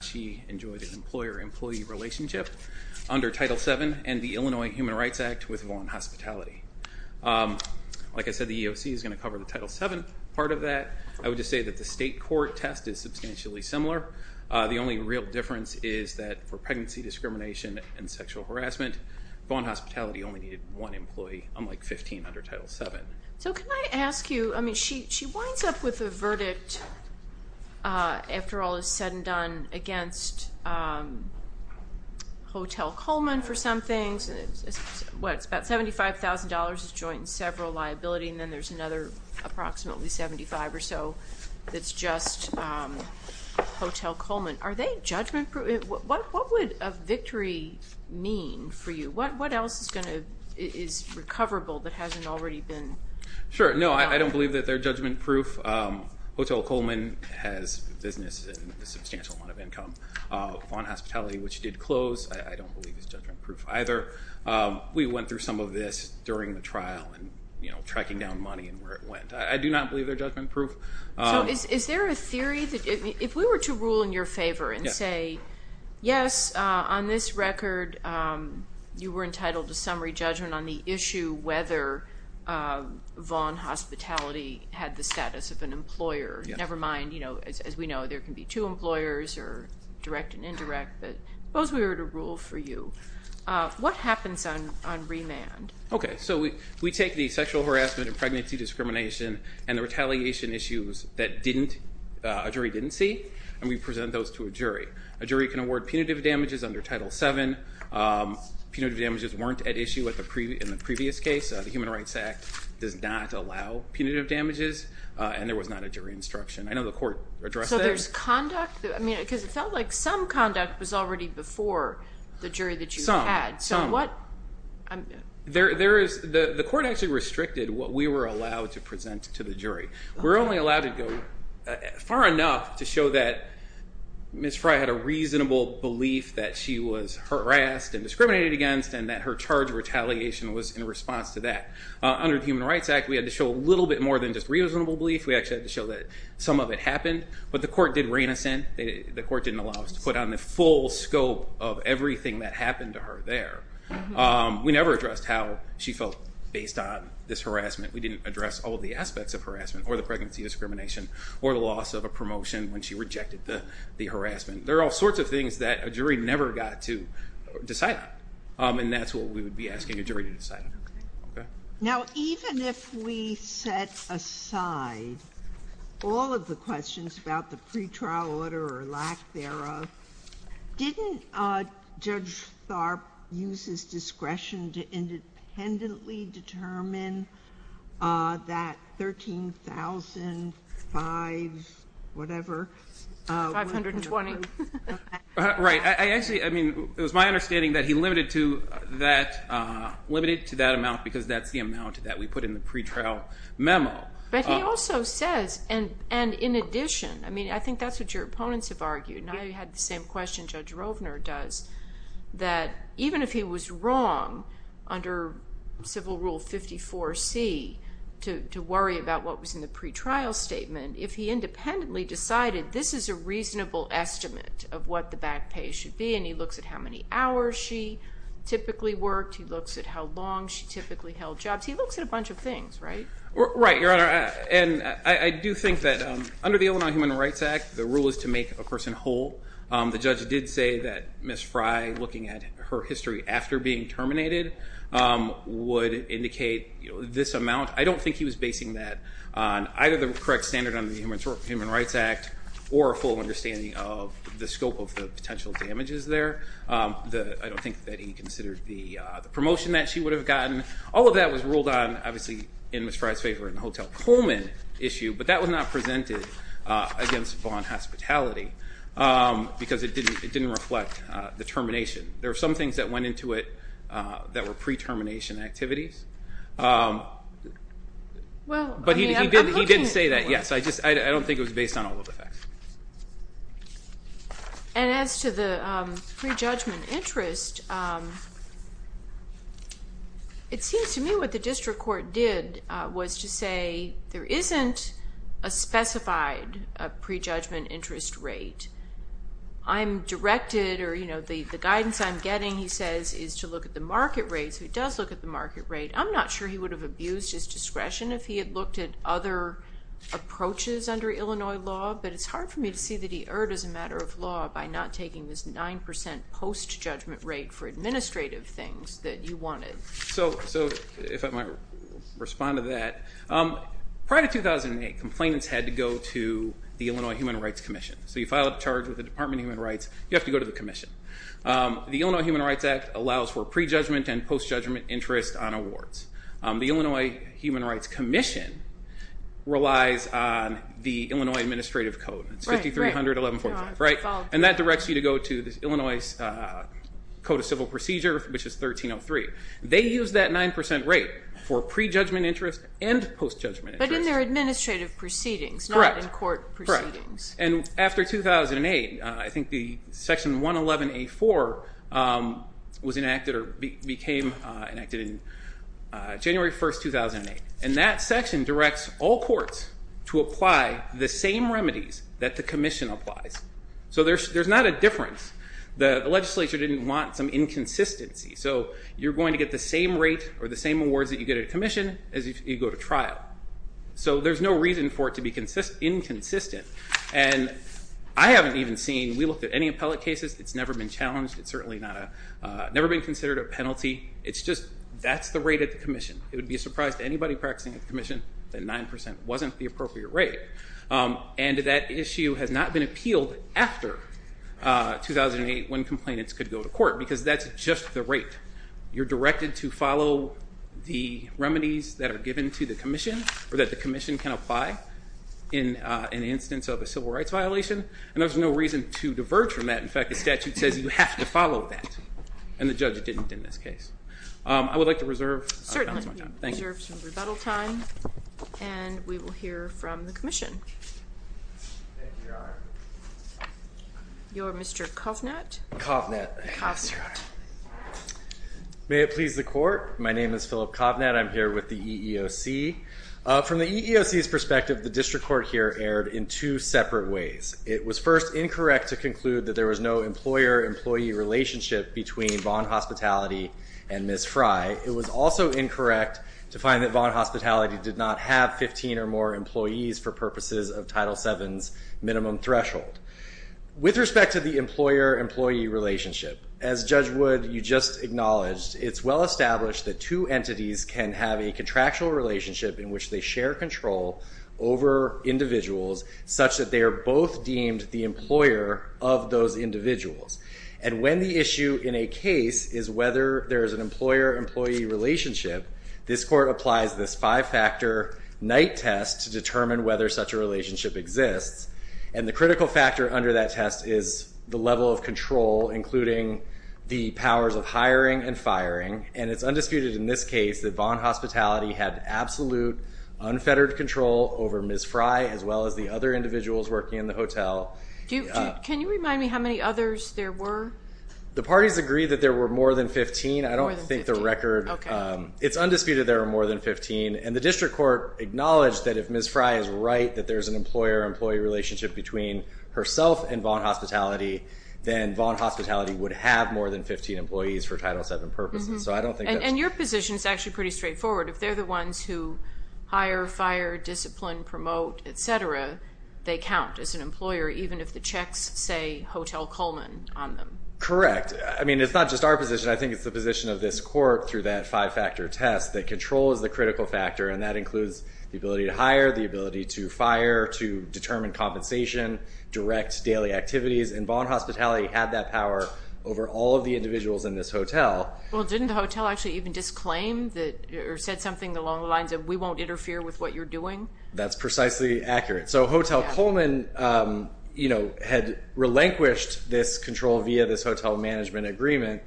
She enjoyed an employer-employee relationship under Title VII and the Illinois Human Rights Act with Vaughan Hospitality. Like I said, the EOC is going to cover the Title VII part of that. I would just say that the state court test is substantially similar. The only real difference is that for pregnancy discrimination and sexual harassment, Vaughan Hospitality only needed one employee, unlike 15 under Title VII. So can I ask you, I mean she she winds up with a verdict, after all is said and done, against Hotel Coleman for some things. What, it's about $75,000 is joint and several liability and then there's another approximately $75,000 or so that's just Hotel Coleman. Are they judgment-proof? What what would a victory mean for you? What what else is going to is recoverable that hasn't already been... Sure, no, I don't believe that they're judgment-proof. Hotel Coleman has business and a substantial amount of income. Vaughan Hospitality, which did close, I don't believe is judgment-proof either. We went through some of this during the trial and, you know, tracking down money and where it went. I do not believe they're judgment-proof. So is there a theory that, if we were to rule in your favor and say, yes, on this record you were entitled to summary judgment on the issue whether Vaughan Hospitality had the status of an employer. Never mind, you know, as we know there can be two employers or direct and indirect, but suppose we were to rule for you. What happens on on remand? Okay, so we we take the sexual harassment and pregnancy discrimination and the retaliation issues that didn't, a jury didn't see, and we present those to a jury. A jury can award punitive damages under Title VII. Punitive damages weren't at issue in the previous case. The Human Rights Act does not allow punitive damages, and there was not a jury instruction. I know the court addressed that. So there's conduct, I mean, because it felt like some conduct was already before the jury that you had. Some, some. So what? There is, the the court actually restricted what we were allowed to present to the jury. We're only allowed to go far enough to show that Ms. Frey had a reasonable belief that she was harassed and discriminated against and that her charge of retaliation was in response to that. Under the Human Rights Act we had to show a little bit more than just reasonable belief. We actually had to show that some of it happened, but the court did rein us in. The court didn't allow us to put on the full scope of everything that happened to her there. We never addressed how she felt based on this harassment. We didn't address all the aspects of harassment or the pregnancy discrimination or the loss of a that a jury never got to decide on. And that's what we would be asking a jury to decide on. Now even if we set aside all of the questions about the pretrial order or lack thereof, didn't Judge Tharp use his discretion to independently determine that $13,500, whatever? $520,000. Right, I actually, I mean it was my understanding that he limited to that limited to that amount because that's the amount that we put in the pretrial memo. But he also says and and in addition I mean I think that's what your opponents have argued and I had the same question Judge Rovner does, that even if he was wrong under Civil Rule 54C to worry about what was in the pretrial statement, if he independently decided this is a reasonable estimate of what the back pay should be and he looks at how many hours she typically worked, he looks at how long she typically held jobs, he looks at a bunch of things, right? Right, Your Honor, and I do think that under the Illinois Human Rights Act, the rule is to make a person whole. The judge did say that Ms. Fry looking at her history after being terminated would indicate this amount. I don't think he was basing that on either the correct standard on the Human Rights Act or a full understanding of the scope of the potential damages there. I don't think that he considered the promotion that she would have gotten. All of that was ruled on obviously in Ms. Fry's favor in the Hotel Coleman issue, but that was not presented against Vaughn hospitality because it didn't it didn't reflect the termination. There are some things that went into it that were pre-termination activities, but he didn't say that. Yes, I just I don't think it was based on all of the facts. And as to the prejudgment interest, it seems to me what the district court did was to say there isn't a specified prejudgment interest rate. I'm directed or you know the the guidance I'm getting, he says, is to look at the market rates. Who does look at the market rate? I'm not sure he would have abused his discretion if he had looked at other approaches under Illinois law, but it's hard for me to see that he erred as a matter of law by not taking this nine percent post judgment rate for administrative things that you wanted. So if I might respond to that, prior to 2008, complainants had to go to the Illinois Human Rights Commission. So you file a charge with the Department of Human Rights, you have to go to the Commission. The Illinois Human Rights Act allows for prejudgment and post judgment interest on awards. The Illinois Human Rights Commission relies on the Illinois Administrative Code. It's 5300 1145, right? And that directs you to go to the Illinois Code of Civil Procedure, which is 1303. They use that nine percent rate for prejudgment interest and post judgment. But in their administrative proceedings, not in court proceedings. And after 2008, I think the section 111A4 was enacted or became enacted in January 1st 2008, and that section directs all courts to apply the same remedies that the Commission applies. So there's not a difference. The you're going to get the same rate or the same awards that you get at a Commission as if you go to trial. So there's no reason for it to be inconsistent. And I haven't even seen, we looked at any appellate cases, it's never been challenged, it's certainly never been considered a penalty. It's just that's the rate at the Commission. It would be a surprise to anybody practicing at the Commission that 9% wasn't the appropriate rate. And that issue has not been appealed after 2008 when complainants could go to court, because that's just the rate. You're directed to follow the remedies that are given to the Commission or that the Commission can apply in an instance of a civil rights violation. And there's no reason to diverge from that. In fact, the statute says you have to follow that. And the judge didn't in this case. I would like to reserve my time. Thank you. Certainly, we reserve some rebuttal time. And we will hear from the Commission. Thank you, Your Honor. You're Mr. Kovnett? Kovnett. Kovnett. May it please the Court, my name is Philip Kovnett. I'm here with the EEOC. From the EEOC's perspective, the district court here erred in two separate ways. It was first incorrect to conclude that there was no employer-employee relationship between Vaughan Hospitality and Ms. Fry. It was also incorrect to find that Vaughan Hospitality did not have 15 or more employees for purposes of Title VII's minimum threshold. With respect to the employer-employee relationship, as Judge Wood, you just acknowledged, it's well established that two entities can have a contractual relationship in which they share control over individuals such that they are both deemed the employer of those individuals. And when the issue in a case is whether there is an employer-employee relationship, this court applies this five-factor night test to determine whether such a relationship exists. And the critical factor under that test is the level of control, including the powers of hiring and firing. And it's undisputed in this case that Vaughan Hospitality had absolute, unfettered control over Ms. Fry as well as the other individuals working in the hotel. Can you remind me how many others there were? The parties agreed that there were more than 15. I don't think the record... It's undisputed there are more than 15. And the district court acknowledged that if Ms. Fry is right that there's an employer-employee relationship between herself and Vaughan Hospitality, then Vaughan Hospitality would have more than 15 employees for Title VII purposes. So I don't think... And your position is actually pretty straightforward. If they're the ones who hire, fire, discipline, promote, etc., they count as an employer even if the checks say Hotel Coleman on them. Correct. I mean, it's not just our position. I think it's the control is the critical factor, and that includes the ability to hire, the ability to fire, to determine compensation, direct daily activities. And Vaughan Hospitality had that power over all of the individuals in this hotel. Well, didn't the hotel actually even disclaim or said something along the lines of, we won't interfere with what you're doing? That's precisely accurate. So Hotel Coleman had relinquished this control via this hotel management agreement,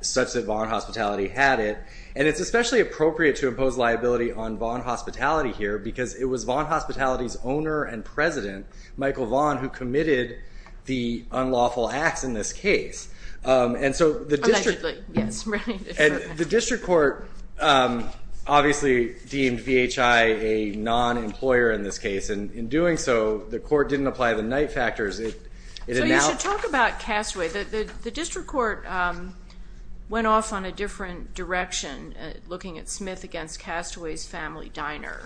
such that Vaughan Hospitality had it. And it's especially appropriate to impose liability on Vaughan Hospitality here because it was Vaughan Hospitality's owner and president, Michael Vaughan, who committed the unlawful acts in this case. And so the district court obviously deemed VHI a non-employer in this case. And in doing so, the court didn't apply the Knight factors. So you should talk about Castaway. The district court went off on a different direction looking at Smith against Castaway's family diner.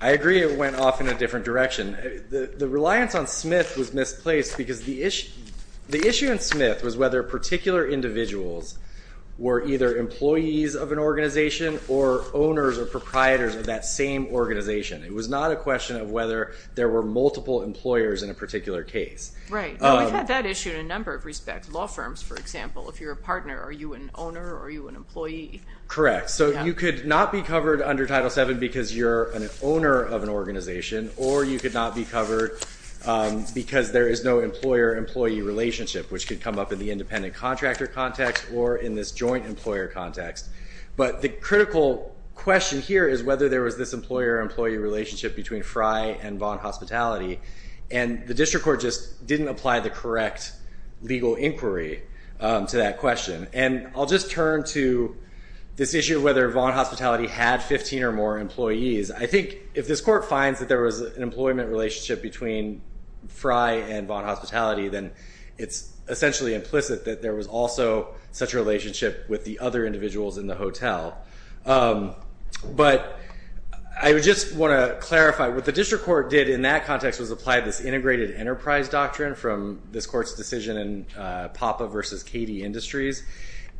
I agree it went off in a different direction. The reliance on Smith was misplaced because the issue in Smith was whether particular individuals were either employees of an organization or owners or proprietors of that same organization. It was not a question of whether there were multiple employers in a particular case. Right. We've had that issue in a number of respects. Law firms, for example, if you're a partner, are you an owner? Are you an employee? Correct. So you could not be covered under Title VII because you're an owner of an organization, or you could not be covered because there is no employer-employee relationship, which could come up in the independent contractor context or in this joint employer context. But the critical question here is whether there was this relationship between Fry and Vaughn Hospitality. And the district court just didn't apply the correct legal inquiry to that question. And I'll just turn to this issue of whether Vaughn Hospitality had 15 or more employees. I think if this court finds that there was an employment relationship between Fry and Vaughn Hospitality, then it's essentially implicit that there was also such a relationship with the other individuals in the hotel. But I would want to clarify, what the district court did in that context was apply this integrated enterprise doctrine from this court's decision in PAPA versus KD Industries.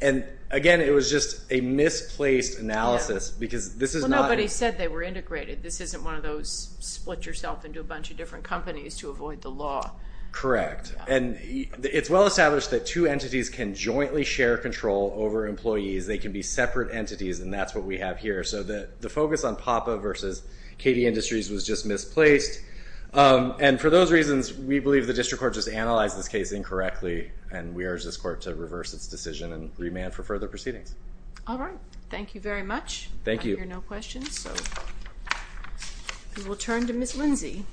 And again, it was just a misplaced analysis because this is not... Nobody said they were integrated. This isn't one of those split yourself into a bunch of different companies to avoid the law. Correct. And it's well established that two entities can jointly share control over employees. They can be separate entities, and that's what we have here. So that the focus on PAPA versus KD Industries was just misplaced. And for those reasons, we believe the district court just analyzed this case incorrectly, and we urge this court to reverse its decision and remand for further proceedings. All right. Thank you very much. Thank you. I hear no questions, so we will turn to Ms. Lindsey.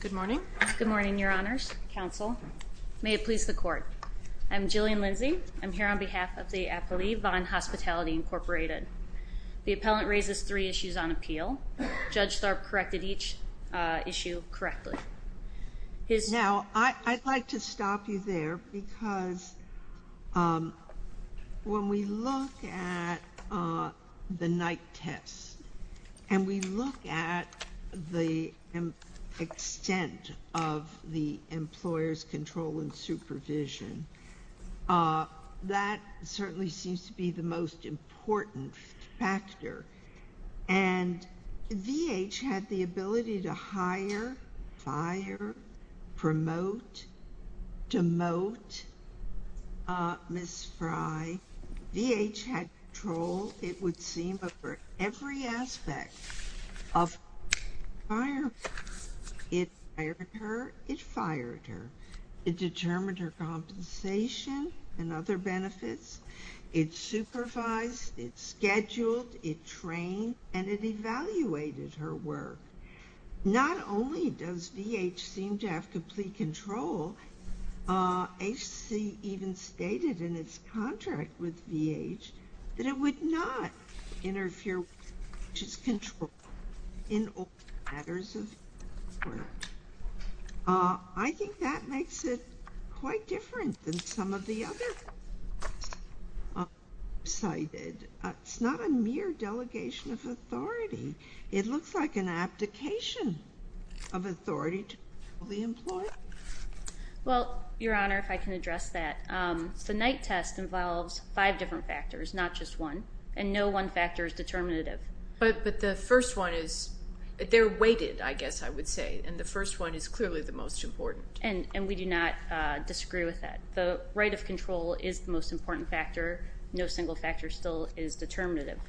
Good morning. Good morning, Your Honors, counsel. May it please the court. I'm Jillian Lindsey. I'm here on behalf of the appellee, Vaughan Hospitality Incorporated. The appellant raises three issues on appeal. Judge Tharp corrected each issue correctly. Now, I'd like to stop you there because when we look at the night test and we look at the extent of the employer's control and supervision, that certainly seems to be the most important factor. And VH had the ability to hire, fire, promote, demote Ms. Frye. VH had control, it would seem, over every aspect of hiring. It fired her. It determined her compensation and other benefits. It supervised, it scheduled, it trained, and it evaluated her work. Not only does VH seem to have complete control, HC even stated in its contract with VH that it would not interfere with VH's control in all matters of work. I think that makes it quite different than some of the other issues that are cited. It's not a mere delegation of authority. It looks like an abdication of authority to the employer. Well, Your Honor, if I can address that, the night test involves five different factors, not just one, and no one factor is determinative. But the first one is, they're weighted, I guess I would say, and the first one is clearly the most important. And we do not believe control is the most important factor. No single factor still is determinative.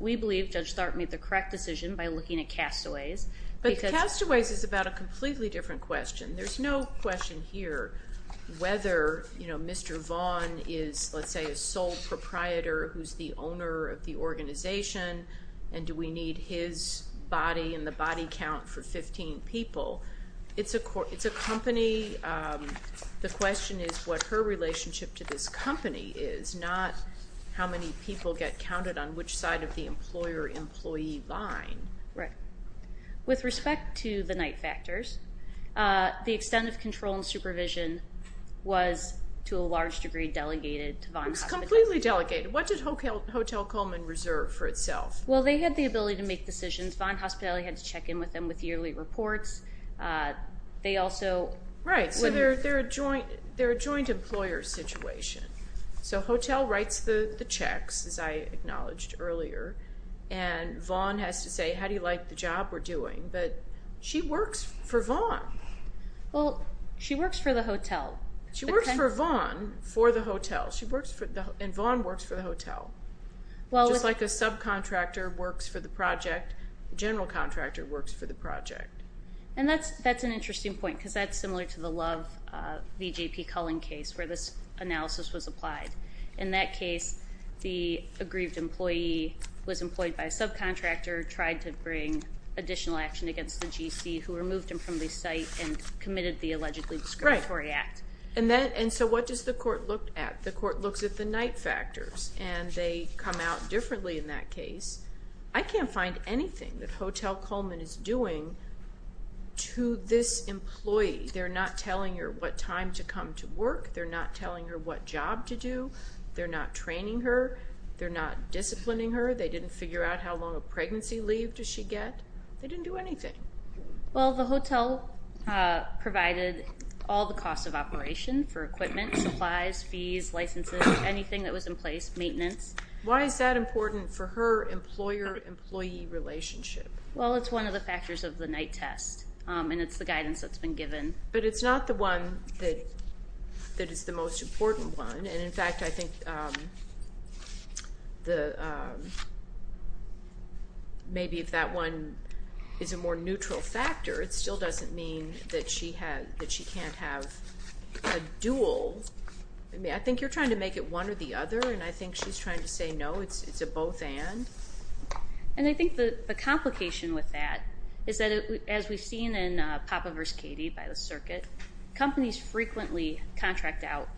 We believe Judge Tharp made the correct decision by looking at Castaways. But Castaways is about a completely different question. There's no question here whether, you know, Mr. Vaughn is, let's say, a sole proprietor who's the owner of the organization, and do we need his body and the body count for 15 people? It's a company, the question is what her relationship to this company is, not how many people get counted on which side of the employer employee line. Right. With respect to the night factors, the extent of control and supervision was, to a large degree, delegated to Vaughn Hospitality. It was completely delegated. What did Hotel Coleman reserve for itself? Well, they had the yearly reports. They also... Right, so they're a joint employer situation. So Hotel writes the checks, as I acknowledged earlier, and Vaughn has to say, how do you like the job we're doing? But she works for Vaughn. Well, she works for the hotel. She works for Vaughn for the hotel, and Vaughn works for the hotel, just like a subcontractor works for the project, a general contractor works for the project. And that's an interesting point, because that's similar to the Love v. J.P. Cullen case, where this analysis was applied. In that case, the aggrieved employee was employed by a subcontractor, tried to bring additional action against the GC, who removed him from the site and committed the allegedly discriminatory act. And so what does the court look at? The court looks at the night factors, and they come out and say, what is Val Coleman is doing to this employee? They're not telling her what time to come to work. They're not telling her what job to do. They're not training her. They're not disciplining her. They didn't figure out how long a pregnancy leave does she get. They didn't do anything. Well, the hotel provided all the costs of operation for equipment, supplies, fees, licenses, anything that was in place, maintenance. Why is that important for her employer-employee relationship? Well, it's one of the factors of the night test, and it's the guidance that's been given. But it's not the one that is the most important one. And in fact, I think maybe if that one is a more neutral factor, it still doesn't mean that she can't have a duel. I mean, I think you're trying to make it one or the other, and I think she's trying to say, no, it's a both and. And I think the complication with that is that, as we've seen in Papa versus Katie by the circuit, companies frequently contract out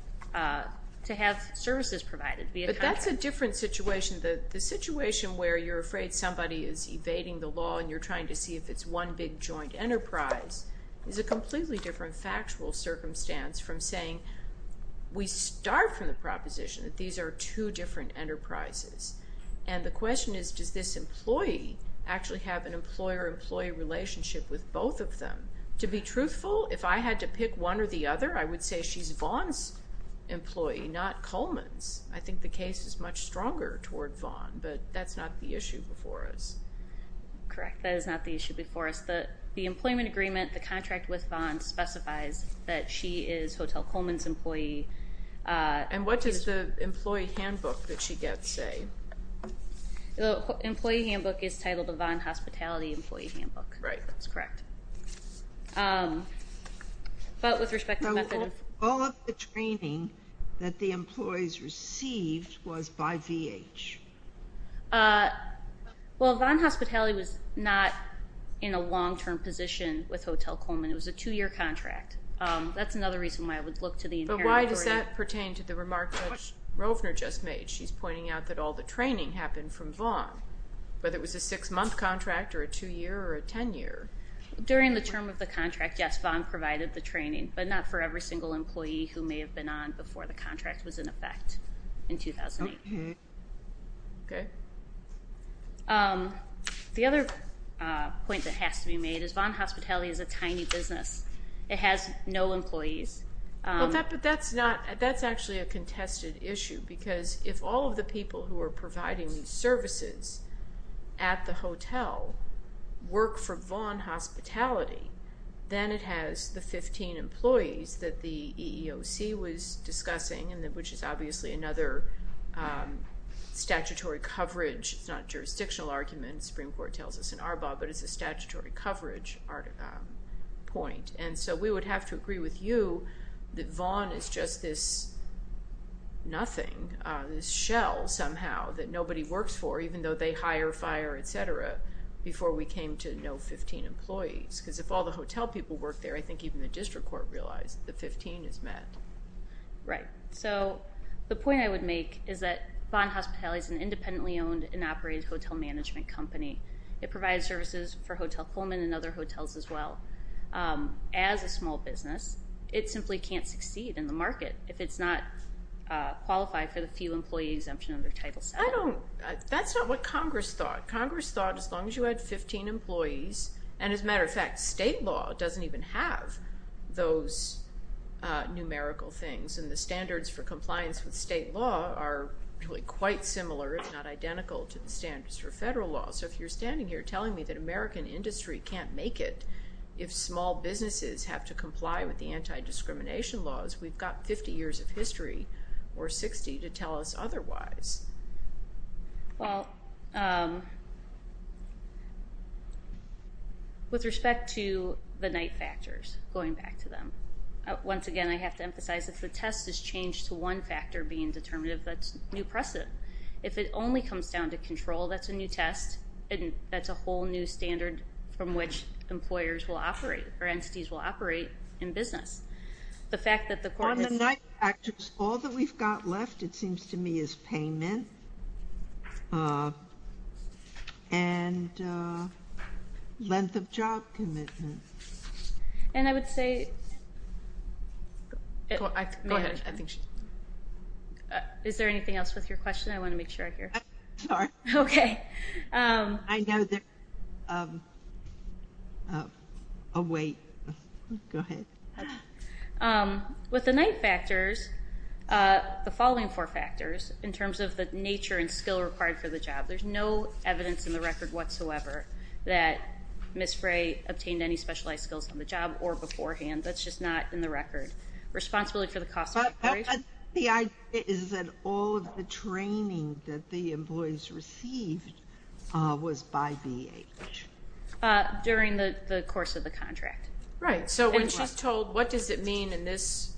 to have services provided. But that's a different situation. The situation where you're afraid somebody is evading the law, and you're trying to see if it's one big joint enterprise, is a completely different factual circumstance from saying we start from the proposition that these are two different enterprises. And the question is, does this employee actually have an employer-employee relationship with both of them? To be truthful, if I had to pick one or the other, I would say she's Vaughn's employee, not Coleman's. I think the case is much stronger toward Vaughn, but that's not the issue before us. Correct, that is not the issue before us. The employment agreement, the contract with Vaughn specifies that she is Hotel Coleman. What does the employee handbook that she gets say? The employee handbook is titled the Vaughn Hospitality employee handbook. Right. That's correct. But with respect to... All of the training that the employees received was by VH. Well, Vaughn Hospitality was not in a long-term position with Hotel Coleman. It was a two-year contract. That's another reason why I would look to the remark that Rovner just made. She's pointing out that all the training happened from Vaughn, whether it was a six-month contract or a two-year or a ten-year. During the term of the contract, yes, Vaughn provided the training, but not for every single employee who may have been on before the contract was in effect in 2008. The other point that has to be made is Vaughn Hospitality is a tiny business. It has no tested issue, because if all of the people who are providing services at the hotel work for Vaughn Hospitality, then it has the 15 employees that the EEOC was discussing, which is obviously another statutory coverage. It's not a jurisdictional argument. The Supreme Court tells us in Arbaugh, but it's a statutory coverage point. And so we would have to agree with you that Vaughn is just this nothing, this shell somehow that nobody works for, even though they hire, fire, etc., before we came to know 15 employees. Because if all the hotel people work there, I think even the district court realized that the 15 is met. Right. So the point I would make is that Vaughn Hospitality is an independently owned and operated hotel management company. It provides services for Hotel Coleman and other hotels as well. As a small business, it simply can't succeed in the market if it's not qualified for the few employee exemption under Title VII. I don't, that's not what Congress thought. Congress thought as long as you had 15 employees, and as a matter of fact, state law doesn't even have those numerical things, and the standards for compliance with state law are really quite similar, if not identical, to the standards for federal law. So if you're standing here telling me that American industry can't make it if small businesses have to comply with the anti-discrimination laws, we've got 50 years of history, or 60, to tell us otherwise. Well, with respect to the night factors, going back to them, once again I have to emphasize if the test is changed to one factor being determinative, that's new precedent. If it only comes down to control, that's a new test, and that's a whole new standard from which employers will operate, or entities will operate in business. The fact that the... On the night factors, all that we've got left, it seems to me, is payment, and length of job commitment. And I would say... Go ahead, I think she... Is there anything else with your question? I want to make sure I hear. Sorry. Okay. I know there's... Oh, wait. Go ahead. With the night factors, the following four factors, in terms of the nature and skill required for the job, there's no evidence in the record whatsoever that Ms. Frey obtained any specialized skills on the job or beforehand. That's just not in the record. Responsibility for the cost of... The idea is that all of the training that the employees received was by BH. During the course of the contract. Right. So when she's told, what does it mean in this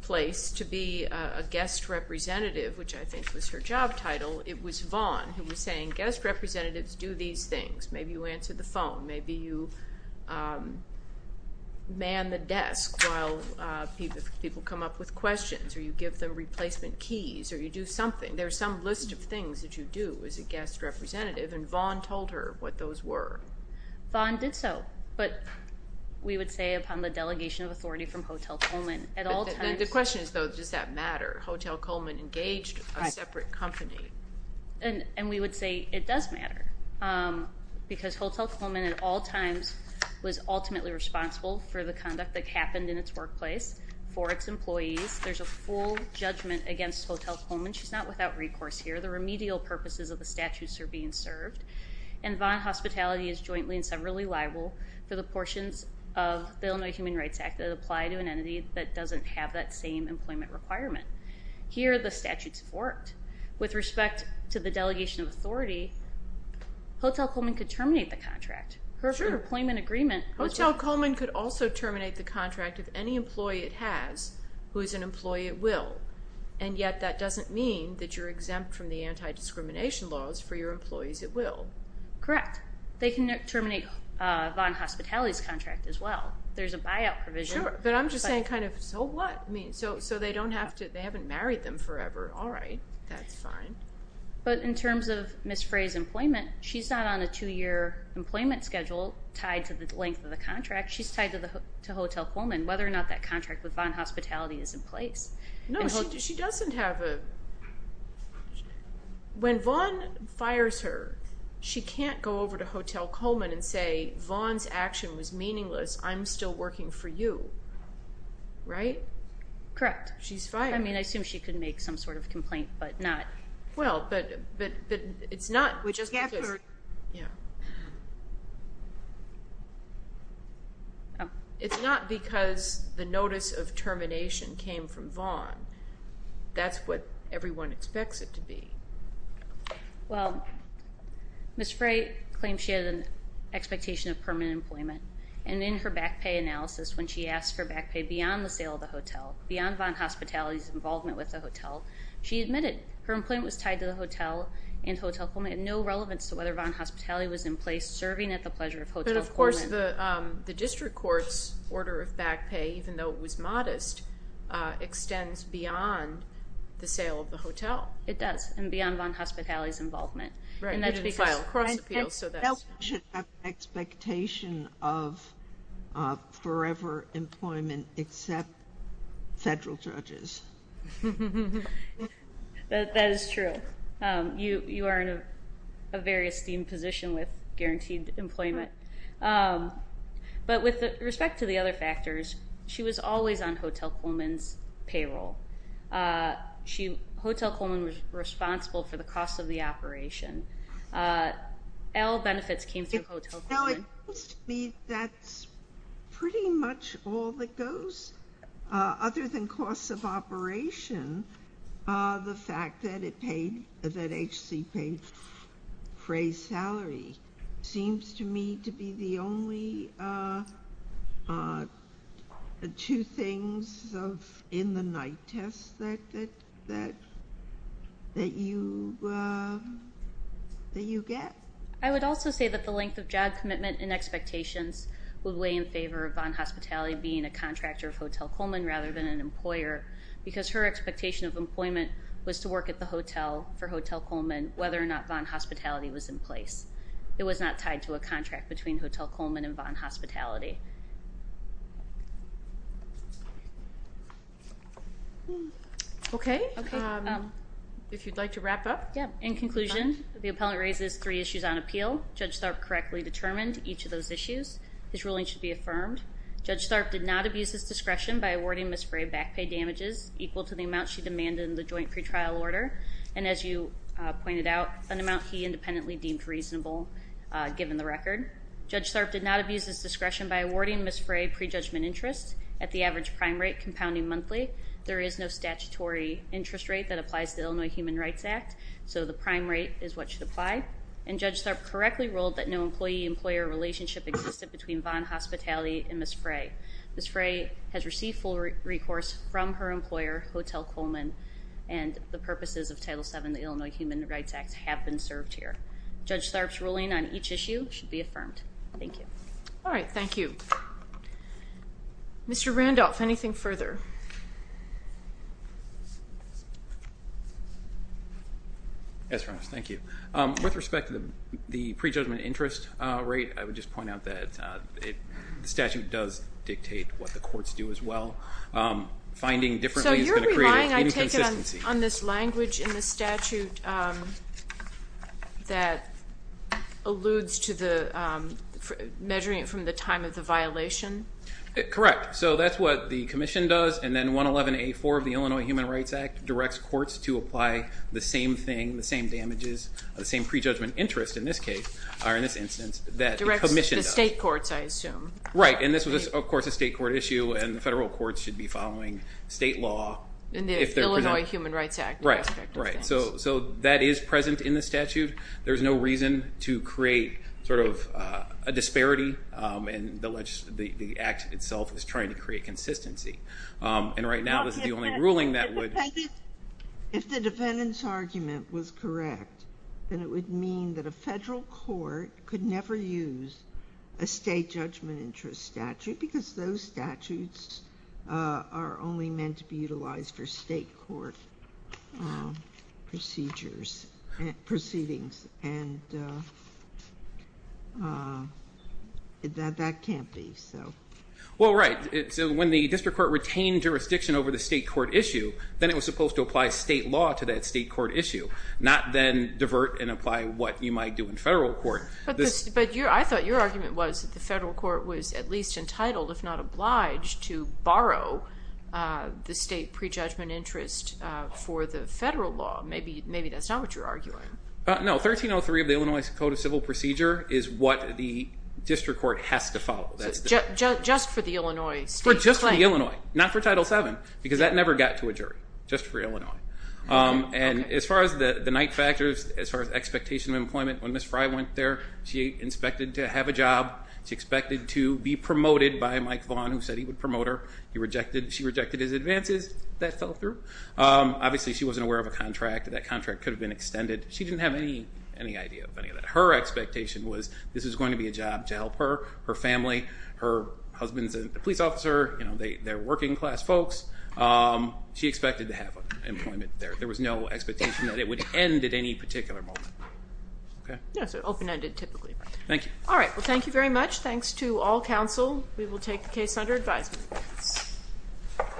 place to be a guest representative, which I think was her job title, it was Vaughn who was saying, guest representatives do these things. Maybe you answer the phone, maybe you man the desk while people come up with questions, or you give the replacement keys, or you do something. There's some list of things that you do as a guest representative, and Vaughn told her what those were. Vaughn did so, but we would say upon the delegation of authority from Hotel Coleman, at all times... The question is though, does that matter? Hotel Coleman engaged a separate company. And we would say it does matter, because Hotel Coleman at all times was ultimately responsible for the conduct that Hotel Coleman... She's not without recourse here. The remedial purposes of the statutes are being served, and Vaughn Hospitality is jointly and severally liable for the portions of the Illinois Human Rights Act that apply to an entity that doesn't have that same employment requirement. Here the statutes worked. With respect to the delegation of authority, Hotel Coleman could terminate the contract. Her employment agreement... Hotel Coleman could also terminate the contract, and yet that doesn't mean that you're exempt from the anti-discrimination laws for your employees at will. Correct. They can terminate Vaughn Hospitality's contract as well. There's a buyout provision. But I'm just saying kind of, so what? I mean, so they don't have to... They haven't married them forever. All right. That's fine. But in terms of Ms. Frey's employment, she's not on a two-year employment schedule tied to the length of the contract. She's tied to Hotel Coleman, whether or not that contract with Vaughn Hospitality is in place. No, she doesn't have a... When Vaughn fires her, she can't go over to Hotel Coleman and say, Vaughn's action was meaningless. I'm still working for you. Right? Correct. She's fired. I mean, I assume she could make some sort of complaint, but not... Well, but it's not... We just can't... Yeah. It's not because the notice of termination came from Vaughn. That's what everyone expects it to be. Well, Ms. Frey claimed she had an expectation of permanent employment, and in her back pay analysis, when she asked for back pay beyond the sale of the hotel, beyond Vaughn Hospitality's involvement with the hotel, she admitted her employment was tied to the hotel and Hotel Coleman had no relevance to whether Vaughn Hospitality was in place, serving at the pleasure of Hotel Coleman. But of course, the district court's order of back pay, even though it was modest, extends beyond the sale of the hotel. It does, and beyond Vaughn Hospitality's involvement. Right. And that's because... You didn't file a cross-appeal, so that's... No one should have an expectation of forever employment except federal judges. That is true. You are in a very esteemed position with guaranteed employment. But with respect to the other factors, she was always on Hotel Coleman's payroll. Hotel Coleman was responsible for the cost of the operation. All benefits came through Hotel Coleman. Well, it seems to me that's pretty much all that goes, other than costs of operation, the fact that it paid, that HC paid crazed salary, seems to me to be the only two things in the night test that you get. I would also say that the length of job commitment and expectations would weigh in favor of Vaughn Hospitality being a lawyer, because her expectation of employment was to work at the hotel for Hotel Coleman, whether or not Vaughn Hospitality was in place. It was not tied to a contract between Hotel Coleman and Vaughn Hospitality. Okay, if you'd like to wrap up. In conclusion, the appellant raises three issues on appeal. Judge Tharp correctly determined each of those issues. His ruling should be affirmed. Judge Tharp did not abuse his discretion by awarding Ms. Fray back pay damages equal to the amount she demanded in the joint pretrial order, and as you pointed out, an amount he independently deemed reasonable given the record. Judge Tharp did not abuse his discretion by awarding Ms. Fray prejudgment interest at the average prime rate compounding monthly. There is no statutory interest rate that applies to Illinois Human Rights Act, so the prime rate is what should apply. And Judge Tharp correctly ruled that no employee employer relationship existed between Vaughn Hospitality and Ms. Fray. Ms. Fray has received full recourse from her employer, Hotel Coleman, and the purposes of Title VII of the Illinois Human Rights Act have been served here. Judge Tharp's ruling on each issue should be affirmed. Thank you. All right, thank you. Mr. Randolph, anything further? Yes, thank you. With respect to the prejudgment interest rate, I would just point out that the statute does dictate what the courts do as well. Finding differently is going to create an inconsistency. So you're relying, I take it, on this language in the statute that alludes to the measuring it from the time of the violation? Correct. So that's what the and then 111A.4 of the Illinois Human Rights Act directs courts to apply the same thing, the same damages, the same prejudgment interest, in this case, or in this instance, that the Commission does. Directs the state courts, I assume. Right, and this was, of course, a state court issue and the federal courts should be following state law. And the Illinois Human Rights Act. Right, right. So that is present in the statute. There's no reason to create, sort of, a disparity and the act itself is trying to create inconsistency. And right now this is the only ruling that would... If the defendant's argument was correct, then it would mean that a federal court could never use a state judgment interest statute because those statutes are only meant to be When the district court retained jurisdiction over the state court issue, then it was supposed to apply state law to that state court issue, not then divert and apply what you might do in federal court. But I thought your argument was that the federal court was at least entitled, if not obliged, to borrow the state prejudgment interest for the federal law. Maybe that's not what you're arguing. No. 1303 of the Illinois Code of Civil Procedure is what the district court has to follow. Just for the Illinois state claim? Just for the Illinois. Not for Title VII. Because that never got to a jury. Just for Illinois. And as far as the night factors, as far as expectation of employment, when Ms. Fry went there, she inspected to have a job. She expected to be promoted by Mike Vaughn, who said he would promote her. She rejected his advances. That fell through. Obviously she wasn't aware of a contract. That contract could have been extended. She didn't have any idea of any of that. But her expectation was this was going to be a job to help her, her family, her husband's a police officer, they're working class folks. She expected to have employment there. There was no expectation that it would end at any particular moment. Yes, open-ended typically. Thank you. All right, well thank you very much. Thanks to all counsel. We will take the case under advisement.